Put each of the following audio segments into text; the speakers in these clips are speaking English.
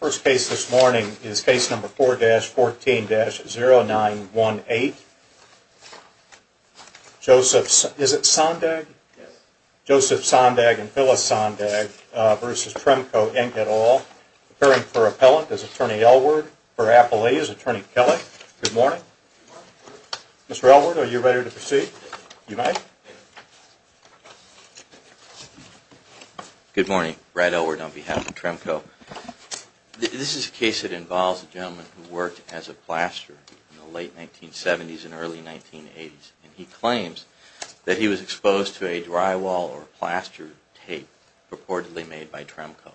First case this morning is case number 4-14-0918, Joseph Sondag and Phyllis Sondag v. Tremco Inc. Appearing for Appellant is Attorney Elward, for Appellee is Attorney Kelley. Good morning. Good morning. Mr. Elward, are you ready to proceed? You may. Good morning. Brad Elward on behalf of Tremco. This is a case that involves a gentleman who worked as a plasterer in the late 1970s and early 1980s, and he claims that he was exposed to a drywall or plaster tape purportedly made by Tremco.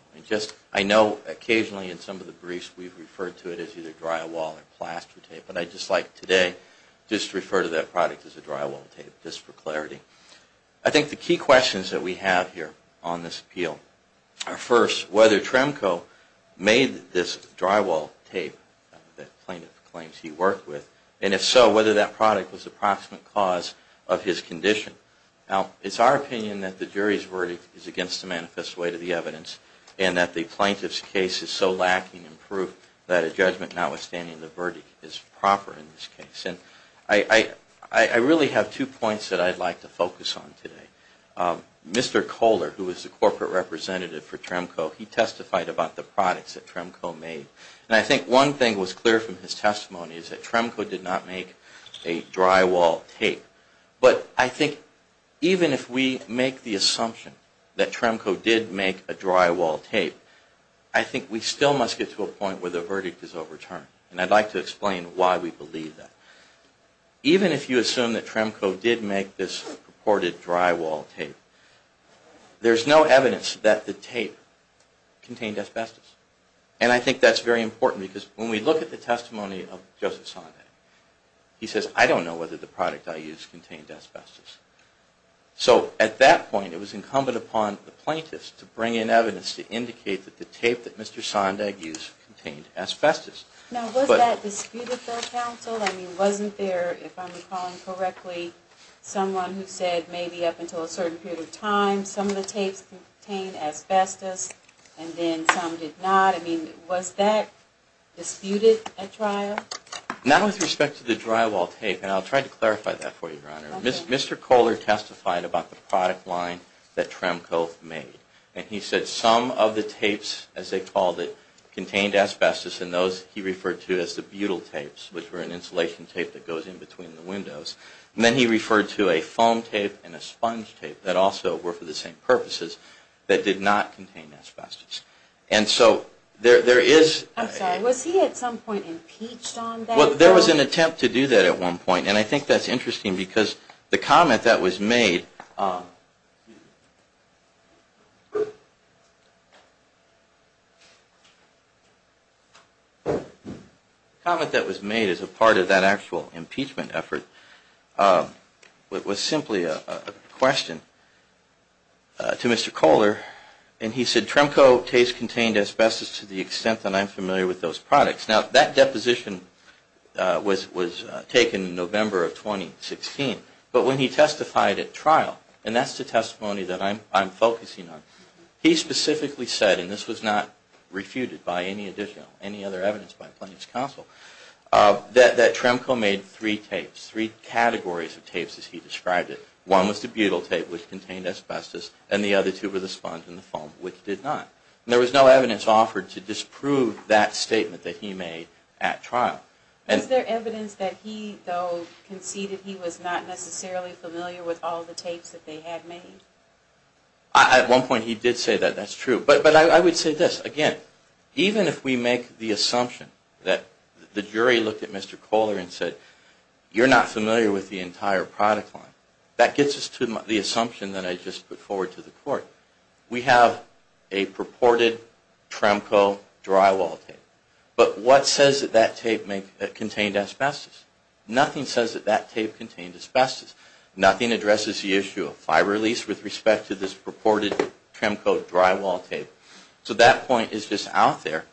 I know occasionally in some of the briefs we've referred to it as either drywall or plaster tape, but I'd just like today just to refer to that product as a drywall tape, just for clarity. I think the key questions that we have here on this appeal are first, whether Tremco made this drywall tape that the plaintiff claims he worked with, and if so, whether that product was the proximate cause of his condition. Now, it's our opinion that the jury's verdict is against the manifest way to the evidence, and that the plaintiff's case is so lacking in proof that a judgment notwithstanding the verdict is proper in this case. And I really have two points that I'd like to focus on today. Mr. Kohler, who is the corporate representative for Tremco, he testified about the products that Tremco made. And I think one thing was clear from his testimony is that Tremco did not make a drywall tape. But I think even if we make the assumption that Tremco did make a drywall tape, I think we still must get to a point where the verdict is overturned. And I'd like to explain why we believe that. Even if you assume that Tremco did make this purported drywall tape, there's no evidence that the tape contained asbestos. And I think that's very important, because when we look at the testimony of Joseph Sondag, he says, I don't know whether the product I used contained asbestos. So at that point, it was incumbent upon the plaintiffs to bring in evidence to indicate that the tape that Mr. Sondag used contained asbestos. Now, was that disputed by counsel? I mean, wasn't there, if I'm recalling correctly, someone who said maybe up until a certain period of time, some of the tapes contained asbestos and then some did not? I mean, was that disputed at trial? Not with respect to the drywall tape. And I'll try to clarify that for you, Your Honor. Mr. Kohler testified about the product line that Tremco made. And he said some of the tapes, as they called it, contained asbestos. And those he referred to as the butyl tapes, which were an insulation tape that goes in between the windows. And then he referred to a foam tape and a sponge tape that also were for the same purposes that did not contain asbestos. I'm sorry, was he at some point impeached on that? Well, there was an attempt to do that at one point. And I think that's interesting because the comment that was made... The comment that was made as a part of that actual impeachment effort was simply a question to Mr. Kohler. And he said Tremco tapes contained asbestos to the extent that I'm familiar with those products. Now, that deposition was taken in November of 2016. But when he testified at trial, and that's the testimony that I'm focusing on, he specifically said, and this was not refuted by any additional, any other evidence by Plaintiff's Counsel, that Tremco made three tapes, three categories of tapes as he described it. One was the butyl tape, which contained asbestos, and the other two were the sponge and the foam, which did not. And there was no evidence offered to disprove that statement that he made at trial. Is there evidence that he, though, conceded he was not necessarily familiar with all the tapes that they had made? At one point he did say that. That's true. But I would say this. Again, even if we make the assumption that the jury looked at Mr. Kohler and said, you're not familiar with the entire product line, that gets us to the assumption that I just put forward to the Court. We have a purported Tremco drywall tape. But what says that that tape contained asbestos? Nothing says that that tape contained asbestos. Nothing addresses the issue of fiber release with respect to this purported Tremco drywall tape. So that point is just out there.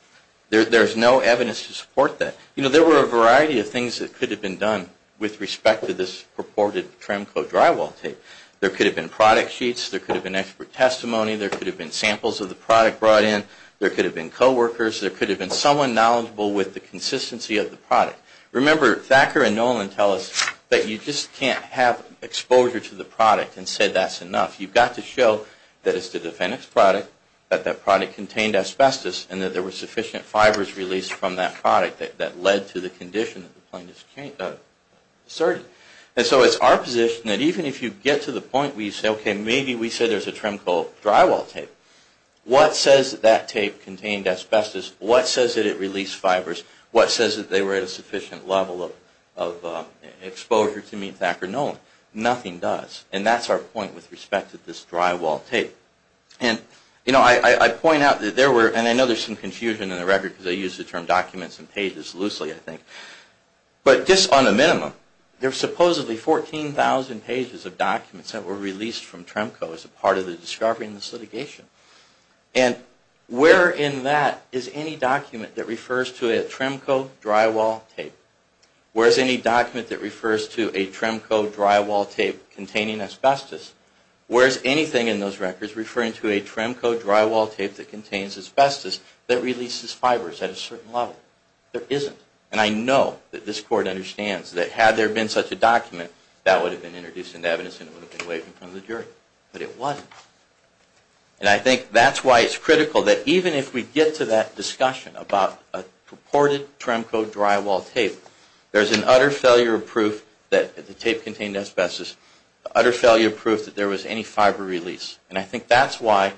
There's no evidence to support that. You know, there were a variety of things that could have been done with respect to this purported Tremco drywall tape. There could have been product sheets, there could have been expert testimony, there could have been samples of the product brought in, there could have been coworkers, there could have been someone knowledgeable with the consistency of the product. Remember, Thacker and Nolan tell us that you just can't have exposure to the product and say that's enough. You've got to show that it's the defendant's product, that that product contained asbestos, and that there were sufficient fibers released from that product that led to the condition that the plaintiff asserted. And so it's our position that even if you get to the point where you say, okay, maybe we said there's a Tremco drywall tape, what says that that tape contained asbestos, what says that it released fibers, what says that they were at a sufficient level of exposure to meet Thacker and Nolan? Nothing does. And that's our point with respect to this drywall tape. And, you know, I point out that there were, and I know there's some confusion in the record because I use the term documents and pages loosely, I think, but just on a minimum, there were supposedly 14,000 pages of documents that were released from Tremco as a part of the discovery in this litigation. And where in that is any document that refers to a Tremco drywall tape? Where's any document that refers to a Tremco drywall tape containing asbestos? Where's anything in those records referring to a Tremco drywall tape that contains asbestos that releases fibers at a certain level? There isn't. And I know that this Court understands that had there been such a document, that would have been introduced into evidence and it would have been waived in front of the jury. But it wasn't. And I think that's why it's critical that even if we get to that discussion about a purported Tremco drywall tape, there's an utter failure of proof that the tape contained asbestos, utter failure of proof that there was any fiber release. And I think that's why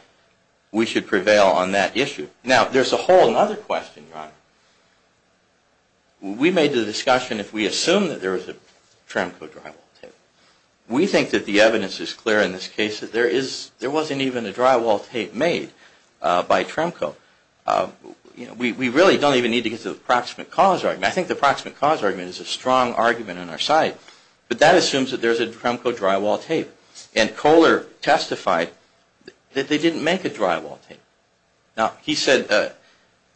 we should prevail on that issue. Now, there's a whole other question, Your Honor. We made the discussion if we assume that there was a Tremco drywall tape. We think that the evidence is clear in this case that there wasn't even a drywall tape made by Tremco. We really don't even need to get to the proximate cause argument. I think the proximate cause argument is a strong argument on our side. But that assumes that there's a Tremco drywall tape. And Kohler testified that they didn't make a drywall tape. He said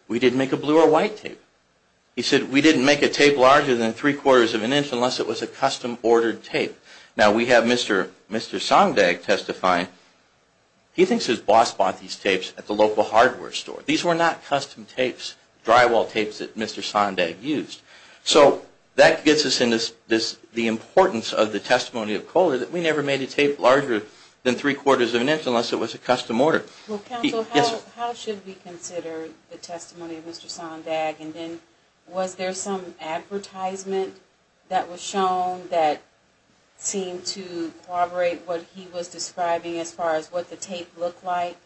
we didn't make a blue or white tape. He said we didn't make a tape larger than three-quarters of an inch unless it was a custom-ordered tape. Now, we have Mr. Sondag testifying. He thinks his boss bought these tapes at the local hardware store. These were not custom tapes, drywall tapes that Mr. Sondag used. So that gets us into the importance of the testimony of Kohler that we never made a tape larger than three-quarters of an inch unless it was a custom order. Well, counsel, how should we consider the testimony of Mr. Sondag? And then was there some advertisement that was shown that seemed to corroborate what he was describing as far as what the tape looked like?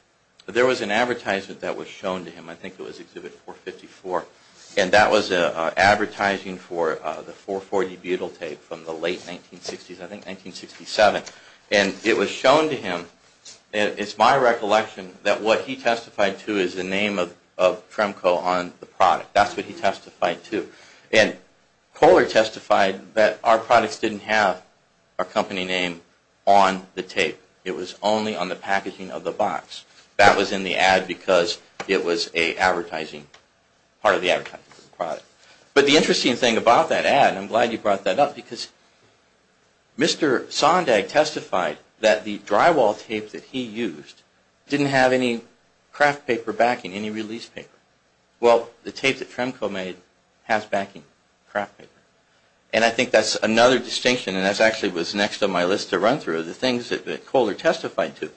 There was an advertisement that was shown to him. I think it was Exhibit 454. And that was advertising for the 440 butyl tape from the late 1960s, I think 1967. And it was shown to him, and it's my recollection, that what he testified to is the name of Tremco on the product. That's what he testified to. And Kohler testified that our products didn't have our company name on the tape. It was only on the packaging of the box. That was in the ad because it was a part of the advertising for the product. But the interesting thing about that ad, and I'm glad you brought that up, because Mr. Sondag testified that the drywall tape that he used didn't have any craft paper backing, any release paper. Well, the tape that Tremco made has backing, craft paper. And I think that's another distinction, and that actually was next on my list to run through, the things that Kohler testified to.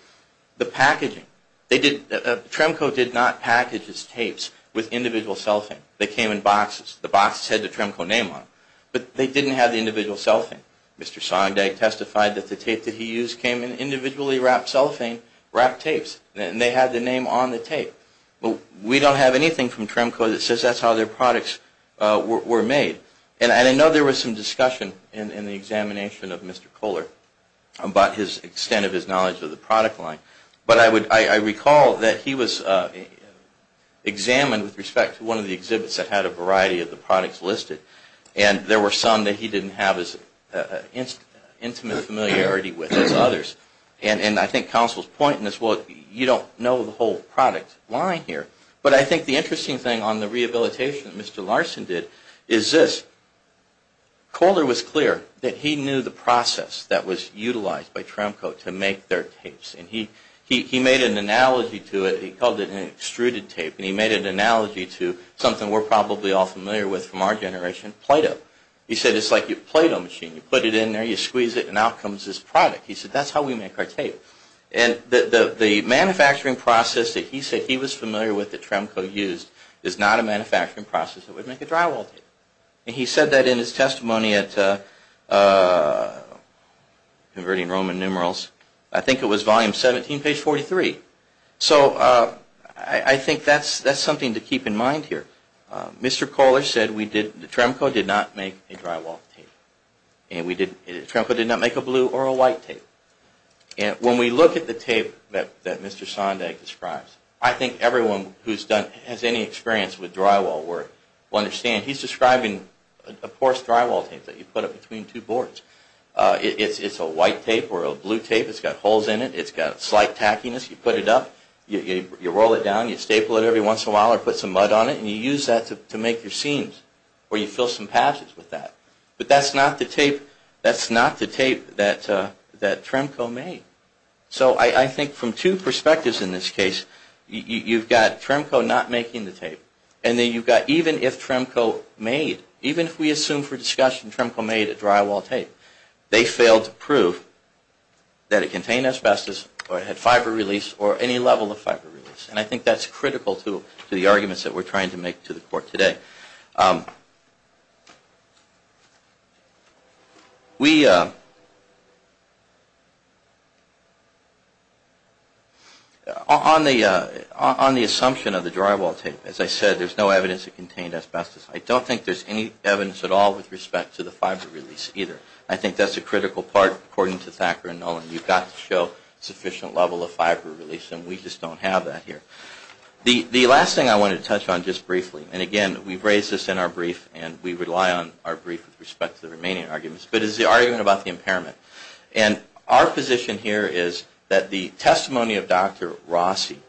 The packaging. Tremco did not package its tapes with individual cellophane. They came in boxes. The boxes had the Tremco name on them. But they didn't have the individual cellophane. Mr. Sondag testified that the tape that he used came in individually wrapped cellophane, wrapped tapes, and they had the name on the tape. We don't have anything from Tremco that says that's how their products were made. And I know there was some discussion in the examination of Mr. Kohler about the extent of his knowledge of the product line. But I recall that he was examined with respect to one of the exhibits that had a variety of the products listed. And there were some that he didn't have as intimate familiarity with as others. And I think counsel's point is, well, you don't know the whole product line here. But I think the interesting thing on the rehabilitation that Mr. Larson did is this. Kohler was clear that he knew the process that was utilized by Tremco to make their tapes. And he made an analogy to it. He called it an extruded tape. And he made an analogy to something we're probably all familiar with from our generation, Play-Doh. He said it's like your Play-Doh machine. You put it in there, you squeeze it, and out comes this product. He said that's how we make our tape. And the manufacturing process that he said he was familiar with that Tremco used is not a manufacturing process that would make a drywall tape. And he said that in his testimony at Converting Roman Numerals. I think it was volume 17, page 43. So I think that's something to keep in mind here. Mr. Kohler said Tremco did not make a drywall tape. And Tremco did not make a blue or a white tape. When we look at the tape that Mr. Sondag describes, I think everyone who has any experience with drywall work will understand. He's describing, of course, drywall tape that you put up between two boards. It's a white tape or a blue tape. It's got holes in it. It's got slight tackiness. You put it up. You roll it down. You staple it every once in a while or put some mud on it. And you use that to make your seams or you fill some patches with that. But that's not the tape that Tremco made. So I think from two perspectives in this case, you've got Tremco not making the tape. And then you've got even if Tremco made, even if we assume for discussion Tremco made a drywall tape, they failed to prove that it contained asbestos or it had fiber release or any level of fiber release. And I think that's critical to the arguments that we're trying to make to the Court today. On the assumption of the drywall tape, as I said, there's no evidence it contained asbestos. I don't think there's any evidence at all with respect to the fiber release either. I think that's a critical part according to Thacker and Nolan. You've got to show sufficient level of fiber release and we just don't have that here. The last thing I want to touch on just briefly, and again, we've raised this in our brief and we rely on our brief with respect to the remaining arguments, but is the argument about the impairment. And our position here is that the testimony of Dr. Rossi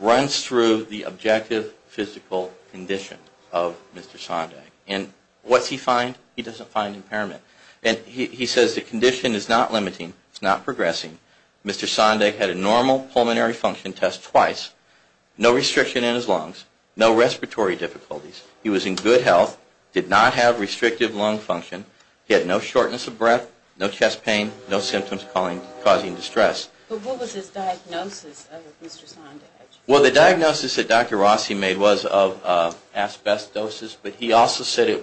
runs through the objective physical condition of Mr. Sondag. And what's he find? He doesn't find impairment. And he says the condition is not limiting, it's not progressing. Mr. Sondag had a normal pulmonary function test twice, no restriction in his lungs, no respiratory difficulties. He was in good health, did not have restrictive lung function, he had no shortness of breath, no chest pain, no symptoms causing distress. But what was his diagnosis of Mr. Sondag? Well, the diagnosis that Dr. Rossi made was of asbestosis, but he also said it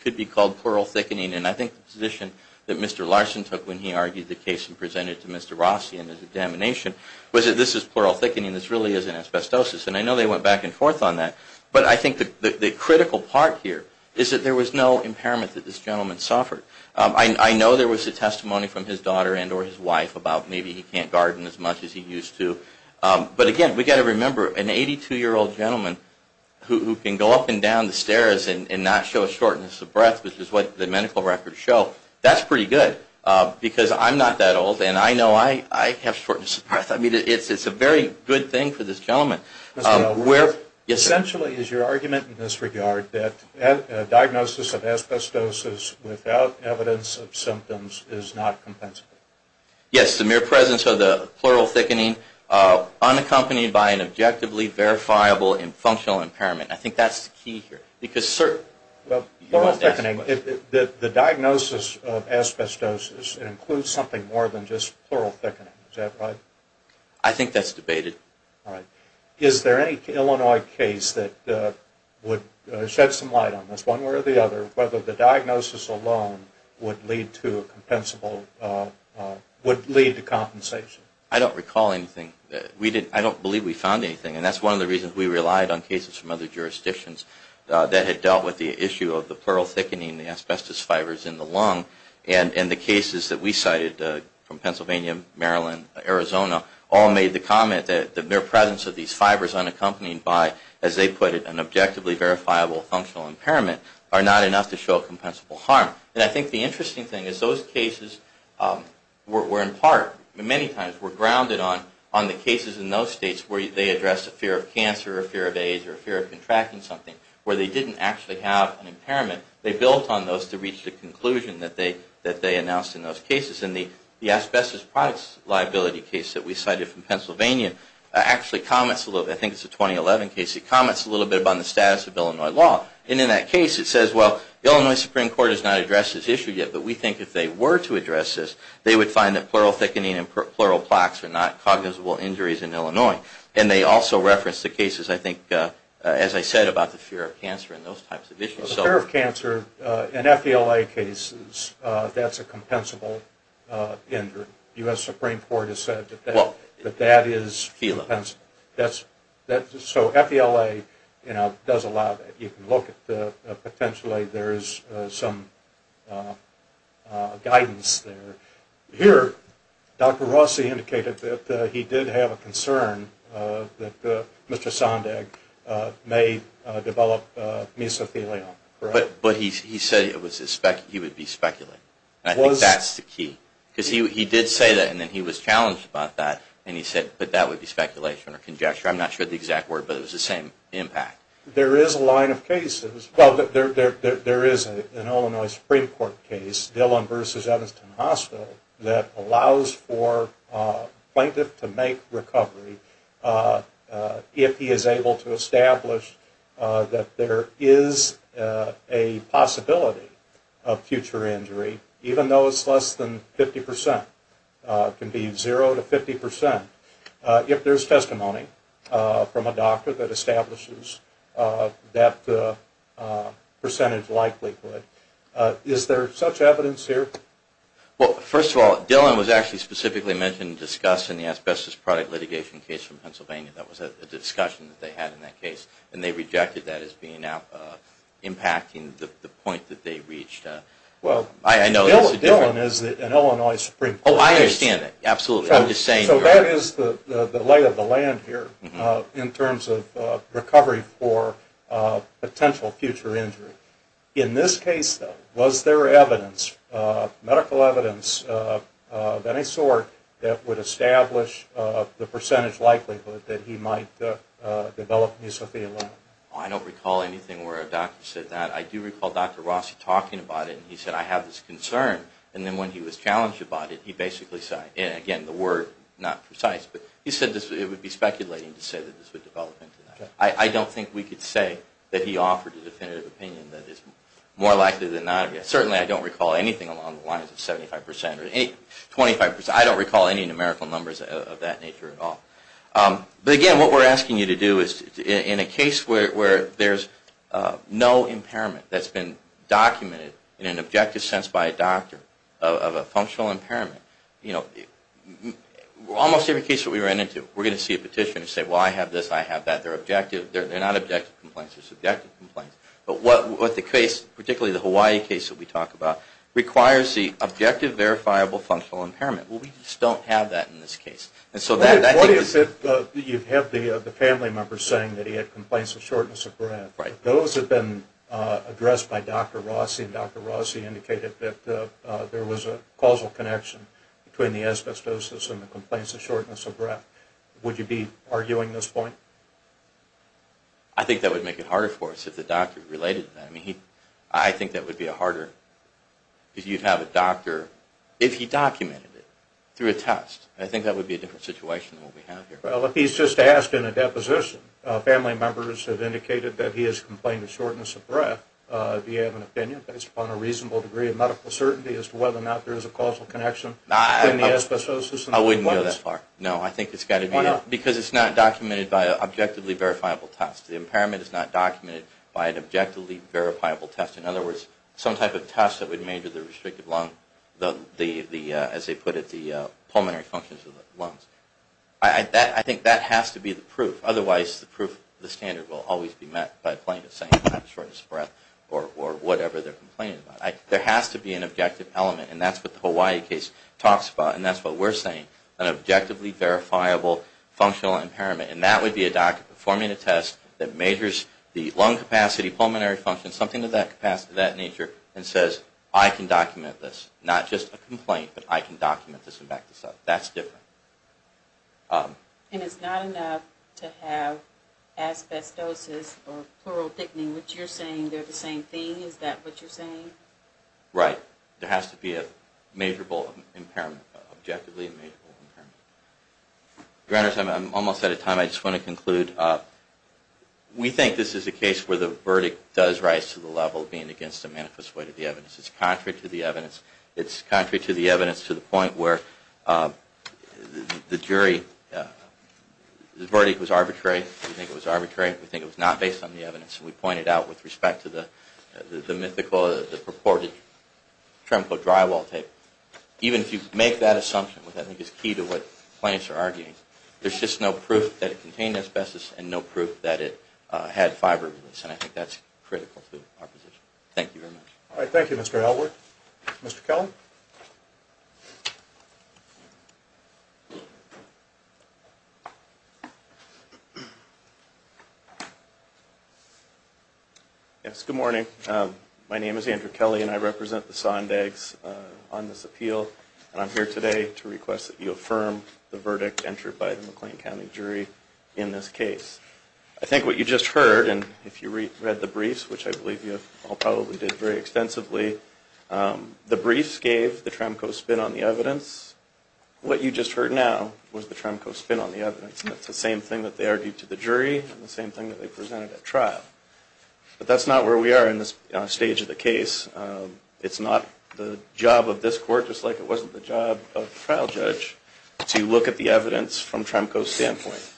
could be called pleural thickening. And I think the position that Mr. Larson took when he argued the case and presented it to Mr. Rossi in his examination was that this is pleural thickening, this really isn't asbestosis. And I know they went back and forth on that. But I think the critical part here is that there was no impairment that this gentleman suffered. I know there was a testimony from his daughter and or his wife about maybe he can't garden as much as he used to. But again, we've got to remember, an 82-year-old gentleman who can go up and down the stairs and not show a shortness of breath, which is what the medical records show, that's pretty good. Because I'm not that old and I know I have shortness of breath. I mean, it's a very good thing for this gentleman. Essentially, is your argument in this regard that a diagnosis of asbestosis without evidence of symptoms is not compensatory? Yes, the mere presence of the pleural thickening unaccompanied by an objectively verifiable and functional impairment. I think that's the key here. The diagnosis of asbestosis includes something more than just pleural thickening, is that right? I think that's debated. Is there any Illinois case that would shed some light on this, one way or the other, whether the diagnosis alone would lead to compensation? I don't recall anything. I don't believe we found anything. And that's one of the reasons we relied on cases from other jurisdictions that had dealt with the issue of the pleural thickening, the asbestos fibers in the lung. And the cases that we cited from Pennsylvania, Maryland, Arizona, all made the comment that the mere presence of these fibers unaccompanied by, as they put it, an objectively verifiable functional impairment are not enough to show compensable harm. And I think the interesting thing is those cases were in part, many times, were grounded on the cases in those states where they addressed a fear of cancer or a fear of AIDS or a fear of contracting something, where they didn't actually have an impairment. They built on those to reach the conclusion that they announced in those cases. And the asbestos products liability case that we cited from Pennsylvania actually comments a little bit, I think it's a 2011 case, it comments a little bit about the status of Illinois law. And in that case it says, well, the Illinois Supreme Court has not addressed this issue yet, but we think if they were to address this, they would find that pleural thickening and pleural plaques are not cognizable injuries in Illinois. And they also reference the cases, I think, as I said, about the fear of cancer and those types of issues. Well, the fear of cancer in FELA cases, that's a compensable injury. The US Supreme Court has said that that is compensable. So FELA does allow that. You can look at potentially there is some guidance there. Here, Dr. Rossi indicated that he did have a concern that Mr. Sondag may develop mesothelioma. But he said he would be speculating. I think that's the key. Because he did say that, and then he was challenged about that, and he said, but that would be speculation or conjecture. I'm not sure of the exact word, but it was the same impact. There is a line of cases, well, there is an Illinois Supreme Court case, Dillon v. Evanston Hospital, that allows for a plaintiff to make recovery if he is able to establish that there is a possibility of future injury, even though it's less than 50 percent. It can be zero to 50 percent if there's testimony from a doctor that establishes that percentage likelihood. Is there such evidence here? Well, first of all, Dillon was actually specifically mentioned and discussed in the asbestos product litigation case from Pennsylvania. That was a discussion that they had in that case, and they rejected that as impacting the point that they reached. Well, Dillon is an Illinois Supreme Court case. So that is the lay of the land here, in terms of recovery for potential future injury. In this case, though, was there evidence, medical evidence of any sort, that would establish the percentage likelihood that he might develop mucophelia? I don't recall anything where a doctor said that. I do recall Dr. Rossi talking about it, and he said, I have this concern. And then when he was challenged about it, he basically said, and again, the word not precise, but he said it would be speculating to say that this would develop into that. I don't think we could say that he offered a definitive opinion that is more likely than not. Certainly, I don't recall anything along the lines of 75 percent or 25 percent. I don't recall any numerical numbers of that nature at all. But again, what we're asking you to do is, in a case where there's no impairment that's been documented in an objective sense by a doctor of a functional impairment, almost every case that we run into, we're going to see a petitioner say, well, I have this, I have that. They're not objective complaints, they're subjective complaints. But what the case, particularly the Hawaii case that we talk about, requires the objective verifiable functional impairment. Well, we just don't have that in this case. You have the family member saying that he had complaints of shortness of breath. Those have been addressed by Dr. Rossi, and Dr. Rossi indicated that there was a causal connection between the asbestosis and the complaints of shortness of breath. Would you be arguing this point? I think that would make it harder for us if the doctor related that. If you have a doctor, if he documented it through a test, I think that would be a different situation than what we have here. Well, if he's just asked in a deposition, family members have indicated that he has complained of shortness of breath. Do you have an opinion based upon a reasonable degree of medical certainty as to whether or not there is a causal connection between the asbestosis and the complaints of shortness of breath? I wouldn't go that far. No, I think it's got to be, because it's not documented by an objectively verifiable test. The impairment is not documented by an objectively verifiable test. In other words, some type of test that would measure the restrictive lung, as they put it, the pulmonary functions of the lungs. I think that has to be the proof. Otherwise, the proof, the standard will always be met by a claimant saying he had shortness of breath or whatever they're complaining about. There has to be an objective element, and that's what the Hawaii case talks about, and that's what we're saying, an objectively verifiable functional impairment. And that would be a doctor performing a test that measures the lung capacity, pulmonary function, something of that nature, and says, I can document this. Not just a complaint, but I can document this and back this up. That's different. And it's not enough to have asbestosis or pleural thickening, which you're saying they're the same thing? Is that what you're saying? Right. There has to be a measurable impairment, an objectively measurable impairment. Your Honors, I'm almost out of time. I just want to conclude. We think this is a case where the verdict does rise to the level of being against a manifest void of the evidence. It's contrary to the evidence to the point where the jury, the verdict was arbitrary. We think it was arbitrary. We think it was not based on the evidence. And we point it out with respect to the mythical, the purported Tremco drywall tape. Even if you make that assumption, which I think is key to what plaintiffs are arguing, there's just no proof that it contained asbestos and no proof that it had fiber. And I think that's critical to our position. Thank you very much. All right. Thank you, Mr. Elwood. Mr. Kelly. Yes. Good morning. My name is Andrew Kelly and I represent the Sondags on this appeal. And I'm here today to request that you affirm the verdict entered by the McLean County jury in this case. I think what you just heard, and if you read the briefs, which I believe you all probably did very extensively, the briefs gave the Tremco spin on the evidence. What you just heard now was the Tremco spin on the evidence. That's the same thing that they argued to the jury and the same thing that they presented at trial. But that's not where we are in this stage of the case. It's not the job of this court, just like it wasn't the job of the trial judge, to look at the evidence from Tremco's standpoint,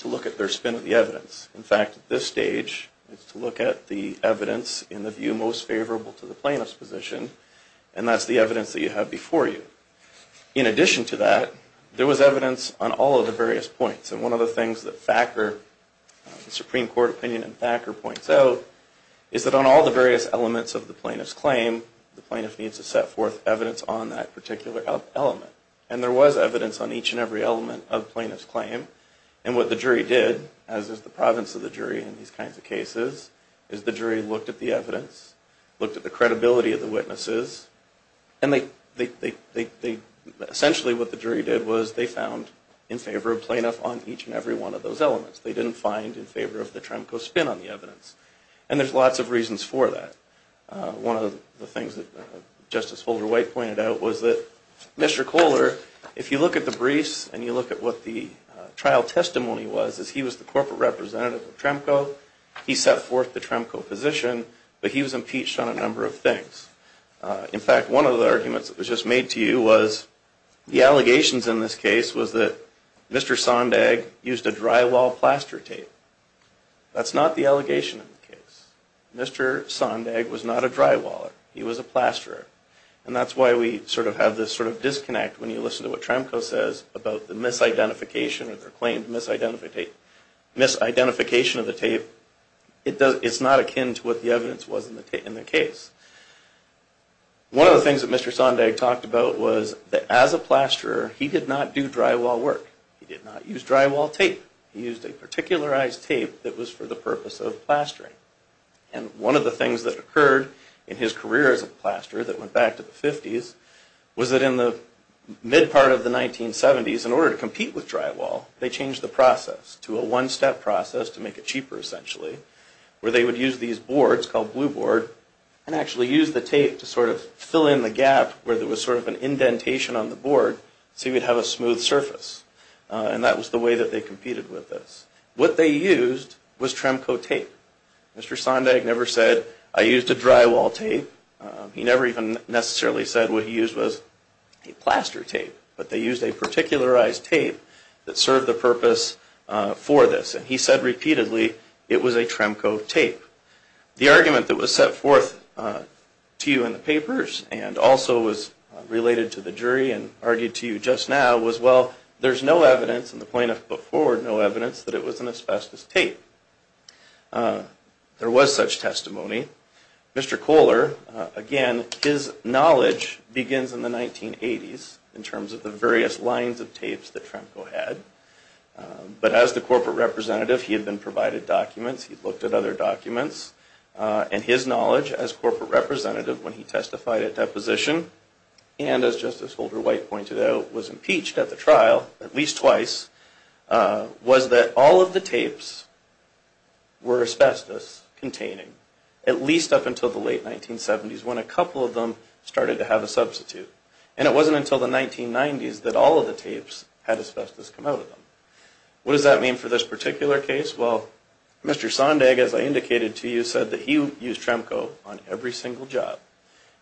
to look at their spin of the evidence. In fact, at this stage, it's to look at the evidence in the view most favorable to the plaintiff's position, and that's the evidence that you have before you. In addition to that, there was evidence on all of the various points. And one of the things that the Supreme Court opinion and Thacker points out is that on all the various elements of the plaintiff's claim, the plaintiff needs to set forth evidence on that particular element. And there was evidence on each and every element of the plaintiff's claim. And what the jury did, as is the province of the jury in these kinds of cases, is the jury looked at the evidence, looked at the credibility of the witnesses, and essentially what the jury did was they found in favor of plaintiff on each and every one of those elements. They didn't find in favor of the Tremco spin on the evidence. And there's lots of reasons for that. One of the things that Justice Holder-White pointed out was that Mr. Kohler, if you look at the briefs and you look at what the trial testimony was, he was the corporate representative of Tremco. He set forth the Tremco position, but he was impeached on a number of things. In fact, one of the arguments that was just made to you was the allegations in this case was that Mr. Sondag used a drywall plaster tape. That's not the allegation in the case. Mr. Sondag was not a drywaller. He was a plasterer. And that's why we sort of have this sort of disconnect when you listen to what Tremco says about the misidentification or the claimed misidentification of the tape. It's not akin to what the evidence was in the case. One of the things that Mr. Sondag talked about was that as a plasterer, he did not do drywall work. He did not use drywall tape. He used a particularized tape that was for the purpose of plastering. And one of the things that occurred in his career as a plasterer that went back to the 50s was that in the mid part of the 1970s, in order to compete with drywall, they changed the process to a one-step process to make it cheaper essentially, where they would use these boards called blue board and actually use the tape to sort of fill in the gap where there was sort of an indentation on the board so you would have a smooth surface. And that was the way that they competed with this. What they used was Tremco tape. Mr. Sondag never said, I used a drywall tape. He never even necessarily said what he used was a plaster tape. But they used a particularized tape that served the purpose for this. And he said repeatedly, it was a Tremco tape. The argument that was set forth to you in the papers and also was related to the jury and argued to you just now was, well, there's no evidence and the plaintiff put forward no evidence that it was an asbestos tape. There was such testimony. Mr. Kohler, again, his knowledge begins in the 1980s in terms of the various lines of tapes that Tremco had. But as the corporate representative, he had been provided documents. He looked at other documents. And his knowledge as corporate representative when he testified at deposition, and as Justice Holder White pointed out, was impeached at the trial at least twice, was that all of the tapes were asbestos containing. At least up until the late 1970s when a couple of them started to have a substitute. And it wasn't until the 1990s that all of the tapes had asbestos come out of them. What does that mean for this particular case? Well, Mr. Sondag, as I indicated to you, said that he used Tremco on every single job.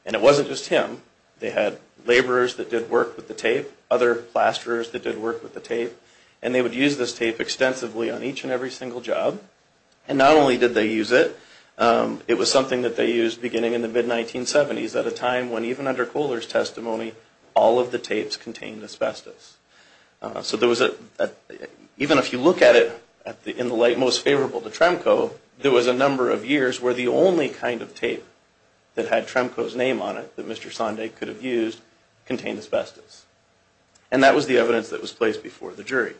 And it wasn't just him. They had laborers that did work with the tape, other plasterers that did work with the tape. And they would use this tape extensively on each and every single job. And not only did they use it, it was something that they used beginning in the mid-1970s at a time when even under Kohler's testimony, all of the tapes contained asbestos. Even if you look at it in the light most favorable to Tremco, there was a number of years where the only kind of tape that had Tremco's name on it, that Mr. Sondag could have used, contained asbestos. And that was the evidence that was placed before the jury.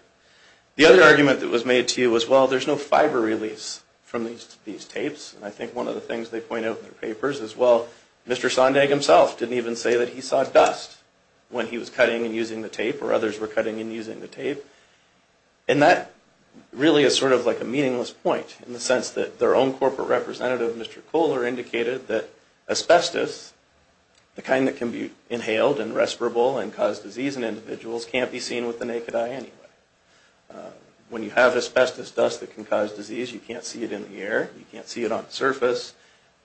The other argument that was made to you was, well, there's no fiber release from these tapes. And I think one of the things they point out in their papers is, well, Mr. Sondag himself didn't even say that he saw dust when he was cutting and using the tape, or others were cutting and using the tape. And that really is sort of like a meaningless point in the sense that their own corporate representative, Mr. Kohler, indicated that asbestos, the kind that can be inhaled and respirable and cause disease in individuals, can't be seen with the naked eye anyway. When you have asbestos dust that can cause disease, you can't see it in the air, you can't see it on the surface,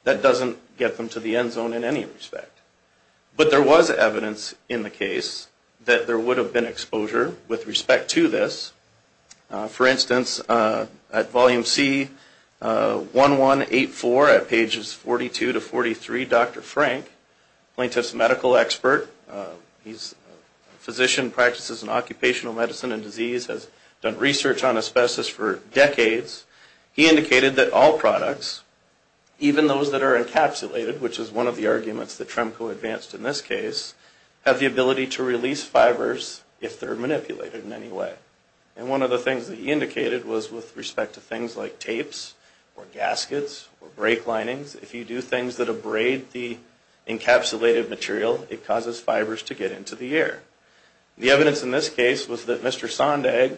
that doesn't get them to the end zone in any respect. But there was evidence in the case that there would have been exposure with respect to this. For instance, at volume C1184 at pages 42 to 43, Dr. Frank, plaintiff's medical expert, he's a physician, practices in occupational medicine and disease, has done research on asbestos for decades, he indicated that all products, even those that are encapsulated, which is one of the arguments that Tremco advanced in this case, have the ability to release fibers if they're manipulated in any way. And one of the things that he indicated was with respect to things like tapes or gaskets or brake linings, if you do things that abrade the encapsulated material, it causes fibers to get into the air. The evidence in this case was that Mr. Sondag,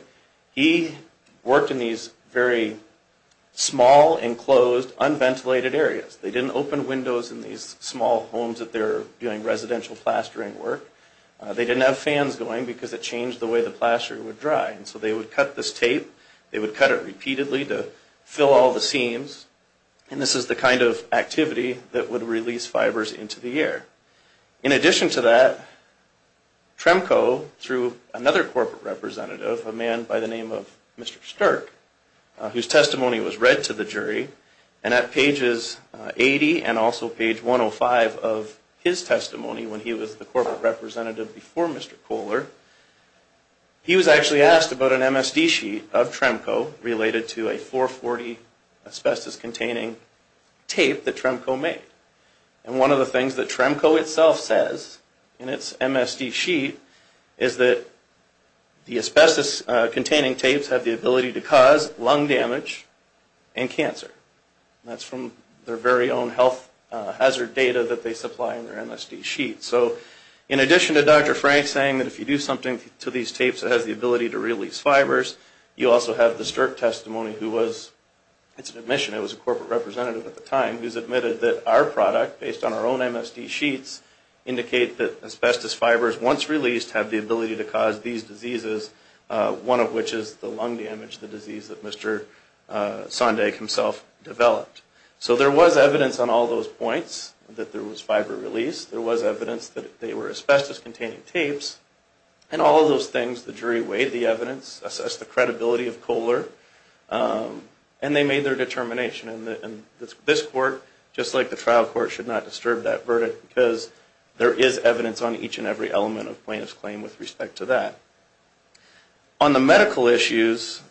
he worked in these very small, enclosed, unventilated areas. They didn't open windows in these small homes that they're doing residential plastering work. They didn't have fans going because it changed the way the plaster would dry. And so they would cut this tape, they would cut it repeatedly to fill all the seams, and this is the kind of activity that would release fibers into the air. In addition to that, Tremco, through another corporate representative, a man by the name of Mr. Stark, whose testimony was read to the jury, and at pages 80 and also page 105 of his testimony when he was the corporate representative before Mr. Kohler, he was actually asked about an MSD sheet of Tremco related to a 440 asbestos-containing tape that Tremco made. And one of the things that Tremco itself says in its MSD sheet is that the asbestos-containing tapes have the ability to cause lung damage and cancer. And that's from their very own health hazard data that they supply in their MSD sheet. So in addition to Dr. Frank saying that if you do something to these tapes it has the ability to release fibers, you also have the Stark testimony who was, it's an admission, it was a corporate representative at the time, who's admitted that our product, based on our own MSD sheets, indicate that asbestos fibers, once released, have the ability to cause these diseases, one of which is the lung damage, the disease that Mr. Sondag himself developed. So there was evidence on all those points, that there was fiber release, there was evidence that they were asbestos-containing tapes, and all of those things the jury weighed the evidence, assessed the credibility of Kohler, and they made their determination. And this court, just like the trial court, should not disturb that verdict because there is evidence on each and every element of plaintiff's claim with respect to that. On the medical issues,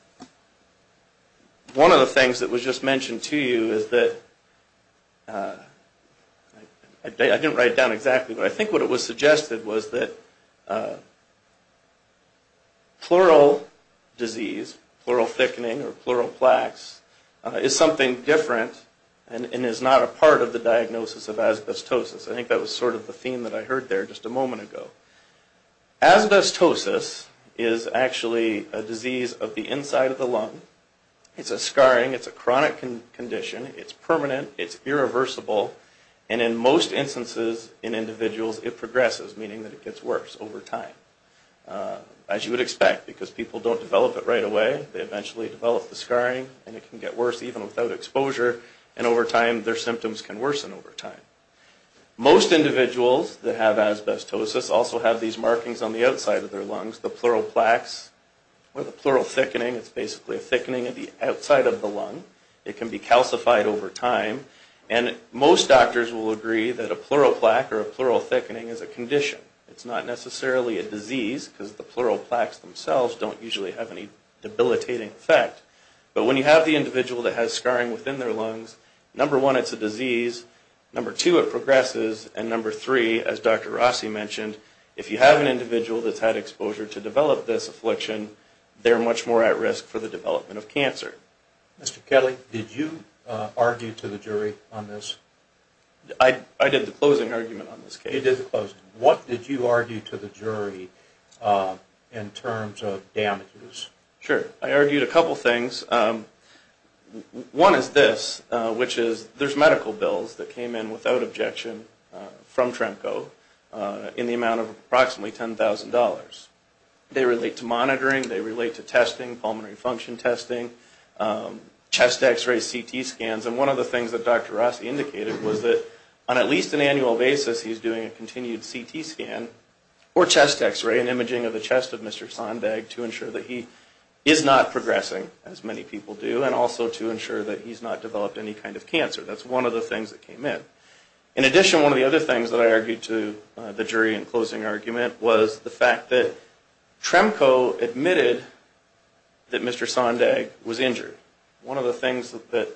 one of the things that was just mentioned to you is that, I didn't write it down exactly, but I think what it was suggested was that pleural disease, pleural thickening or pleural plaques, is something different and is not a part of the diagnosis of asbestosis. I think that was sort of the theme that I heard there just a moment ago. Asbestosis is actually a disease of the inside of the lung. It's a scarring, it's a chronic condition, it's permanent, it's irreversible, and in most instances in individuals it progresses, meaning that it gets worse over time. As you would expect, because people don't develop it right away, they eventually develop the scarring and it can get worse even without exposure, and over time their symptoms can worsen over time. Most individuals that have asbestosis also have these markings on the outside of their lungs, the pleural plaques or the pleural thickening. It's basically a thickening of the outside of the lung. It can be calcified over time. And most doctors will agree that a pleural plaque or a pleural thickening is a condition. It's not necessarily a disease because the pleural plaques themselves don't usually have any debilitating effect. But when you have the individual that has scarring within their lungs, number one, it's a disease, number two, it progresses, and number three, as Dr. Rossi mentioned, if you have an individual that's had exposure to develop this affliction, they're much more at risk for the development of cancer. Mr. Kelly, did you argue to the jury on this? I did the closing argument on this case. You did the closing. What did you argue to the jury in terms of damages? Sure. I argued a couple things. One is this, which is there's medical bills that came in without objection from Tremco in the amount of approximately $10,000. They relate to monitoring, they relate to testing, pulmonary function testing, chest X-ray, CT scans. And one of the things that Dr. Rossi indicated was that on at least an annual basis he's doing a continued CT scan or chest X-ray, an imaging of the chest of Mr. Sonbegg, to ensure that he is not progressing, as many people do, and also to ensure that he's not developed any kind of cancer. That's one of the things that came in. In addition, one of the other things that I argued to the jury in closing argument was the fact that Tremco admitted that Mr. Sonbegg was injured. One of the things that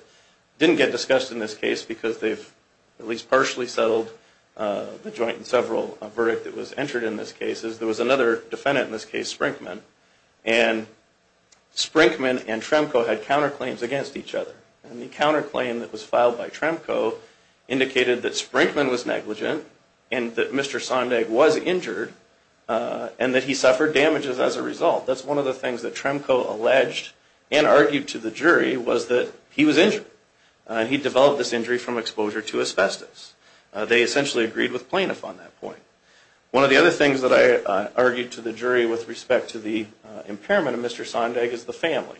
didn't get discussed in this case, because they've at least partially settled the joint and several verdict that was entered in this case, is there was another defendant in this case, Sprinkman, and Sprinkman and Tremco had counterclaims against each other. And the counterclaim that was filed by Tremco indicated that Sprinkman was negligent and that Mr. Sonbegg was injured and that he suffered damages as a result. That's one of the things that Tremco alleged and argued to the jury was that he was injured. He developed this injury from exposure to asbestos. They essentially agreed with plaintiff on that point. One of the other things that I argued to the jury with respect to the impairment of Mr. Sonbegg is the family.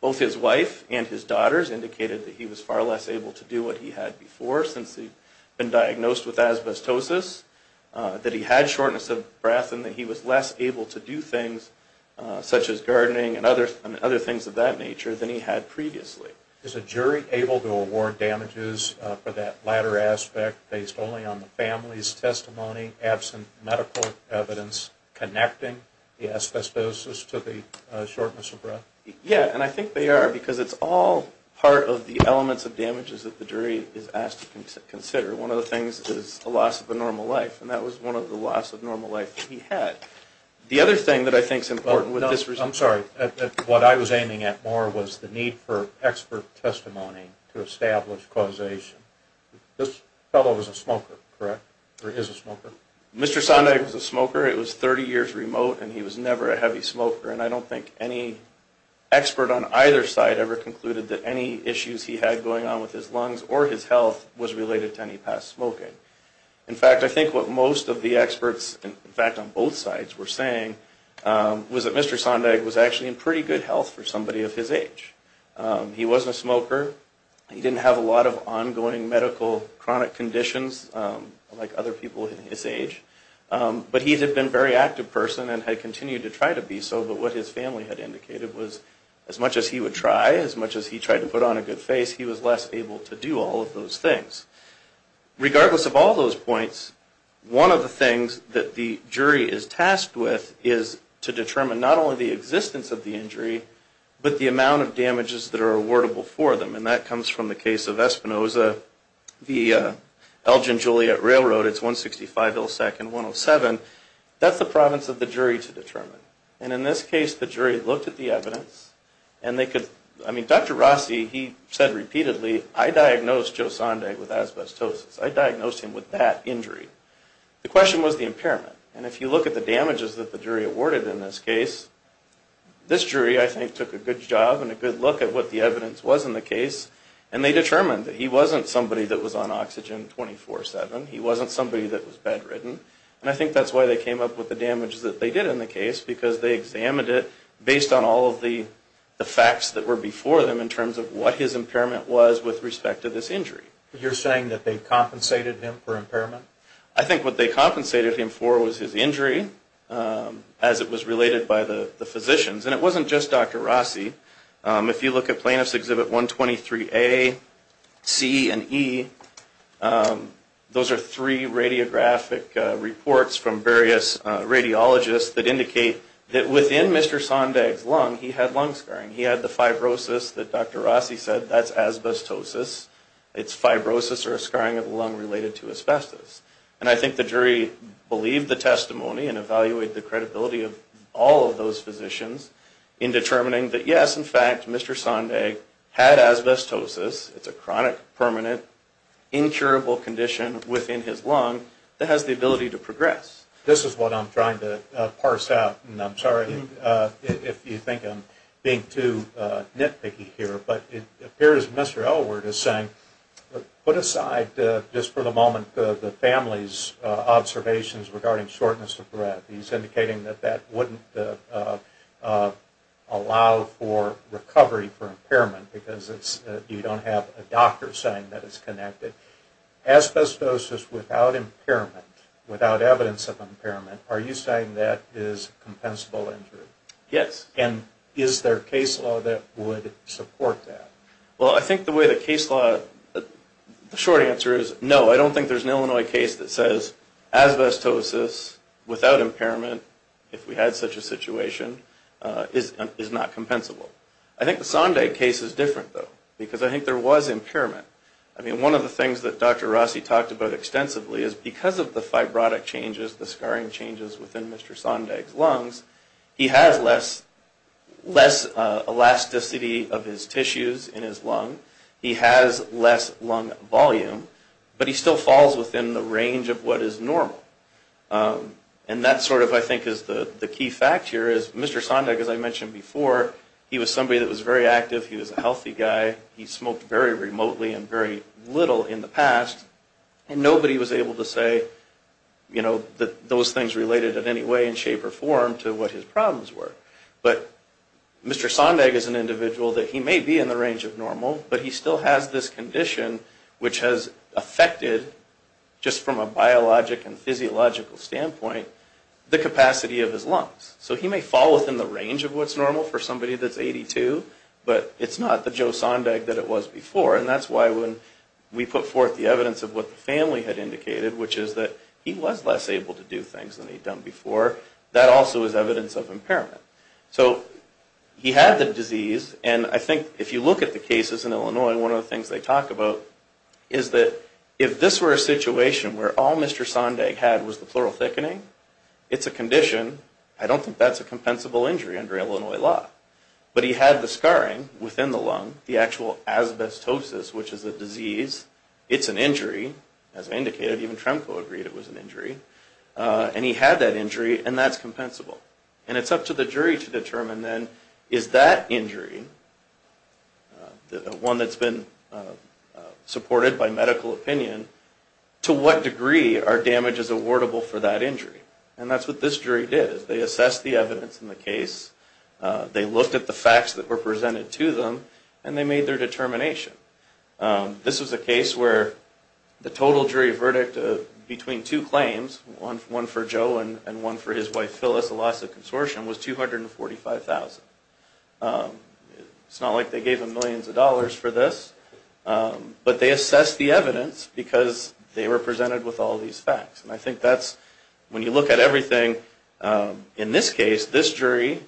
Both his wife and his daughters indicated that he was far less able to do what he had before since he'd been diagnosed with asbestosis, that he had shortness of breath, and that he was less able to do things such as gardening and other things of that nature than he had previously. So is a jury able to award damages for that latter aspect based only on the family's testimony, absent medical evidence connecting the asbestosis to the shortness of breath? Yeah, and I think they are because it's all part of the elements of damages that the jury is asked to consider. One of the things is a loss of a normal life, and that was one of the loss of normal life that he had. The other thing that I think is important with this result... to establish causation. This fellow was a smoker, correct? Or is a smoker? Mr. Sonbegg was a smoker. It was 30 years remote, and he was never a heavy smoker, and I don't think any expert on either side ever concluded that any issues he had going on with his lungs or his health was related to any past smoking. In fact, I think what most of the experts, in fact, on both sides were saying was that Mr. Sonbegg was actually in pretty good health for somebody of his age. He wasn't a smoker. He didn't have a lot of ongoing medical chronic conditions like other people in his age, but he had been a very active person and had continued to try to be so, but what his family had indicated was as much as he would try, as much as he tried to put on a good face, he was less able to do all of those things. Regardless of all those points, one of the things that the jury is tasked with is to determine not only the existence of the injury, but the amount of damages that are awardable for them, and that comes from the case of Espinosa v. Elgin-Juliet Railroad. It's 165 millisecond, 107. That's the province of the jury to determine, and in this case, the jury looked at the evidence, and they could, I mean, Dr. Rossi, he said repeatedly, I diagnosed Joe Sonbegg with asbestosis. I diagnosed him with that injury. The question was the impairment, and if you look at the damages that the jury awarded in this case, this jury, I think, took a good job and a good look at what the evidence was in the case, and they determined that he wasn't somebody that was on oxygen 24-7. He wasn't somebody that was bedridden, and I think that's why they came up with the damages that they did in the case because they examined it based on all of the facts that were before them in terms of what his impairment was with respect to this injury. You're saying that they compensated him for impairment? I think what they compensated him for was his injury as it was related by the physicians, and it wasn't just Dr. Rossi. If you look at Plaintiffs' Exhibit 123A, C, and E, those are three radiographic reports from various radiologists that indicate that within Mr. Sonbegg's lung, he had lung scarring. He had the fibrosis that Dr. Rossi said, that's asbestosis. It's fibrosis or a scarring of the lung related to asbestos, and I think the jury believed the testimony and evaluated the credibility of all of those physicians in determining that, yes, in fact, Mr. Sonbegg had asbestosis. It's a chronic, permanent, incurable condition within his lung that has the ability to progress. This is what I'm trying to parse out, and I'm sorry if you think I'm being too nitpicky here, but it appears Mr. Elwood is saying, put aside just for the moment the family's observations regarding shortness of breath. He's indicating that that wouldn't allow for recovery for impairment because you don't have a doctor saying that it's connected. Asbestosis without impairment, without evidence of impairment, are you saying that is compensable injury? Yes. And is there case law that would support that? Well, I think the way the case law, the short answer is no. I don't think there's an Illinois case that says asbestosis without impairment, if we had such a situation, is not compensable. I think the Sonbegg case is different, though, because I think there was impairment. I mean, one of the things that Dr. Rossi talked about extensively is because of the fibrotic changes, the scarring changes within Mr. Sonbegg's lungs, he has less elasticity of his tissues in his lung. He has less lung volume, but he still falls within the range of what is normal. And that sort of, I think, is the key fact here is Mr. Sonbegg, as I mentioned before, he was somebody that was very active. He was a healthy guy. He smoked very remotely and very little in the past, and nobody was able to say that those things related in any way in shape or form to what his problems were. But Mr. Sonbegg is an individual that he may be in the range of normal, but he still has this condition which has affected, just from a biologic and physiological standpoint, the capacity of his lungs. So he may fall within the range of what's normal for somebody that's 82, but it's not the Joe Sonbegg that it was before. And that's why when we put forth the evidence of what the family had indicated, which is that he was less able to do things than he'd done before, that also is evidence of impairment. So he had the disease, and I think if you look at the cases in Illinois, one of the things they talk about is that if this were a situation where all Mr. Sonbegg had was the pleural thickening, it's a condition, I don't think that's a compensable injury under Illinois law. But he had the scarring within the lung, the actual asbestosis, which is a disease. It's an injury. As I indicated, even Tremco agreed it was an injury. And he had that injury, and that's compensable. And it's up to the jury to determine then is that injury, the one that's been supported by medical opinion, to what degree are damages awardable for that injury? And that's what this jury did. They assessed the evidence in the case. They looked at the facts that were presented to them, and they made their determination. This was a case where the total jury verdict between two claims, one for Joe and one for his wife Phyllis, a loss of consortium, was $245,000. It's not like they gave him millions of dollars for this. But they assessed the evidence because they were presented with all these facts. And I think that's, when you look at everything in this case, this jury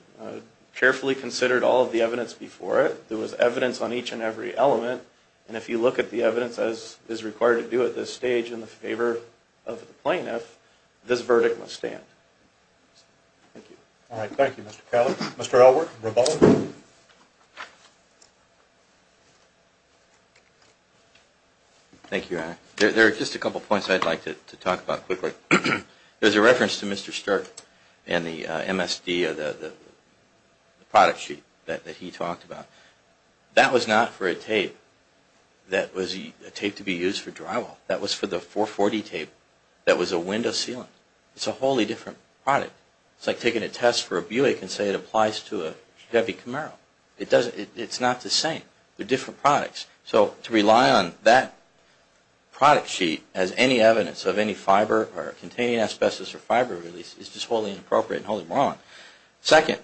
carefully considered all of the evidence before it. There was evidence on each and every element. And if you look at the evidence, as is required to do at this stage, in favor of the plaintiff, this verdict must stand. Thank you. All right. Thank you, Mr. Cowley. Mr. Elwood, Revolver. Thank you, Eric. There are just a couple points I'd like to talk about quickly. There's a reference to Mr. Sterk and the MSD, the product sheet that he talked about. That was not for a tape that was a tape to be used for drywall. That was for the 440 tape that was a window sealant. It's a wholly different product. It's like taking a test for a Buick and saying it applies to a Chevy Camaro. It's not the same. They're different products. So to rely on that product sheet as any evidence of any fiber or containing asbestos or fiber release is just wholly inappropriate and wholly wrong. Second,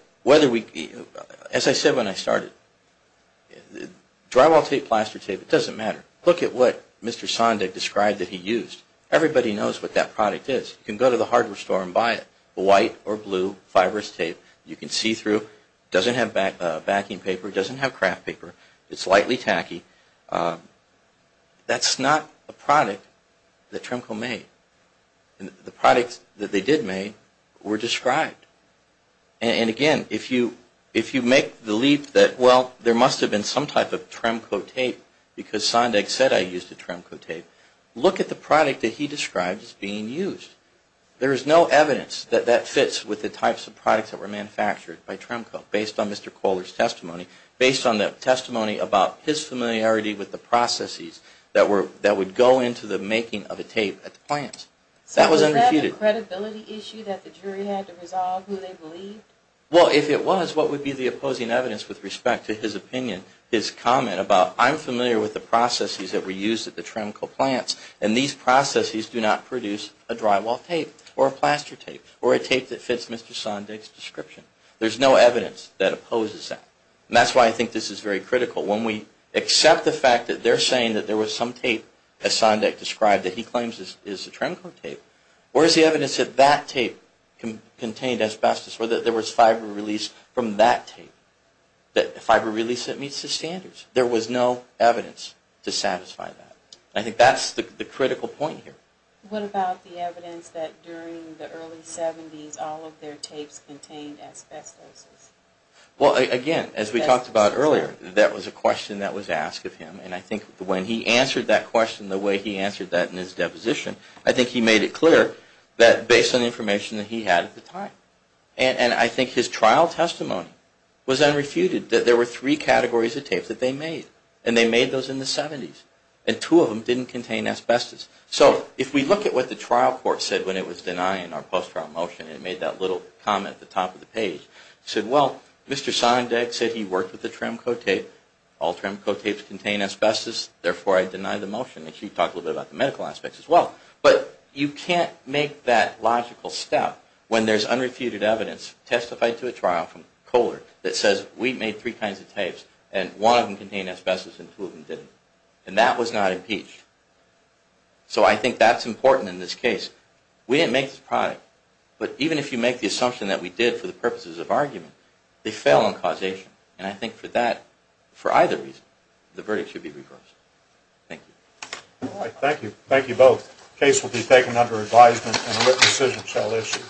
as I said when I started, drywall tape, plaster tape, it doesn't matter. Look at what Mr. Sondag described that he used. Everybody knows what that product is. You can go to the hardware store and buy it, white or blue, fibrous tape. You can see through. It doesn't have backing paper. It doesn't have kraft paper. It's lightly tacky. That's not a product that Tremco made. The products that they did make were described. And again, if you make the leap that, well, there must have been some type of Tremco tape because Sondag said I used a Tremco tape, look at the product that he described as being used. There is no evidence that that fits with the types of products that were manufactured by Tremco based on Mr. Kohler's testimony, based on the testimony about his familiarity with the processes that would go into the making of a tape at the plants. That was unrefuted. So was that a credibility issue that the jury had to resolve who they believed? Well, if it was, what would be the opposing evidence with respect to his opinion, his comment about I'm familiar with the processes that were used at the Tremco plants, and these processes do not produce a drywall tape or a plaster tape or a tape that fits Mr. Sondag's description. There's no evidence that opposes that. And that's why I think this is very critical. When we accept the fact that they're saying that there was some tape, as Sondag described, that he claims is a Tremco tape, where is the evidence that that tape contained asbestos or that there was fiber release from that tape, that fiber release that meets the standards? There was no evidence to satisfy that. I think that's the critical point here. What about the evidence that during the early 70s all of their tapes contained asbestos? Well, again, as we talked about earlier, that was a question that was asked of him. And I think when he answered that question the way he answered that in his deposition, I think he made it clear that based on the information that he had at the time. And I think his trial testimony was unrefuted, that there were three categories of tapes that they made. And they made those in the 70s. And two of them didn't contain asbestos. So if we look at what the trial court said when it was denying our post-trial motion, it made that little comment at the top of the page. It said, well, Mr. Sondag said he worked with a Tremco tape. All Tremco tapes contain asbestos. Therefore, I deny the motion. And he talked a little bit about the medical aspects as well. But you can't make that logical step when there's unrefuted evidence testified to a trial from Kohler that says we made three kinds of tapes and one of them contained asbestos and two of them didn't. And that was not impeached. So I think that's important in this case. We didn't make this product. But even if you make the assumption that we did for the purposes of argument, they fell on causation. And I think for that, for either reason, the verdict should be reversed. Thank you. All right. Thank you. Thank you both. The case will be taken under advisement and a written decision shall issue.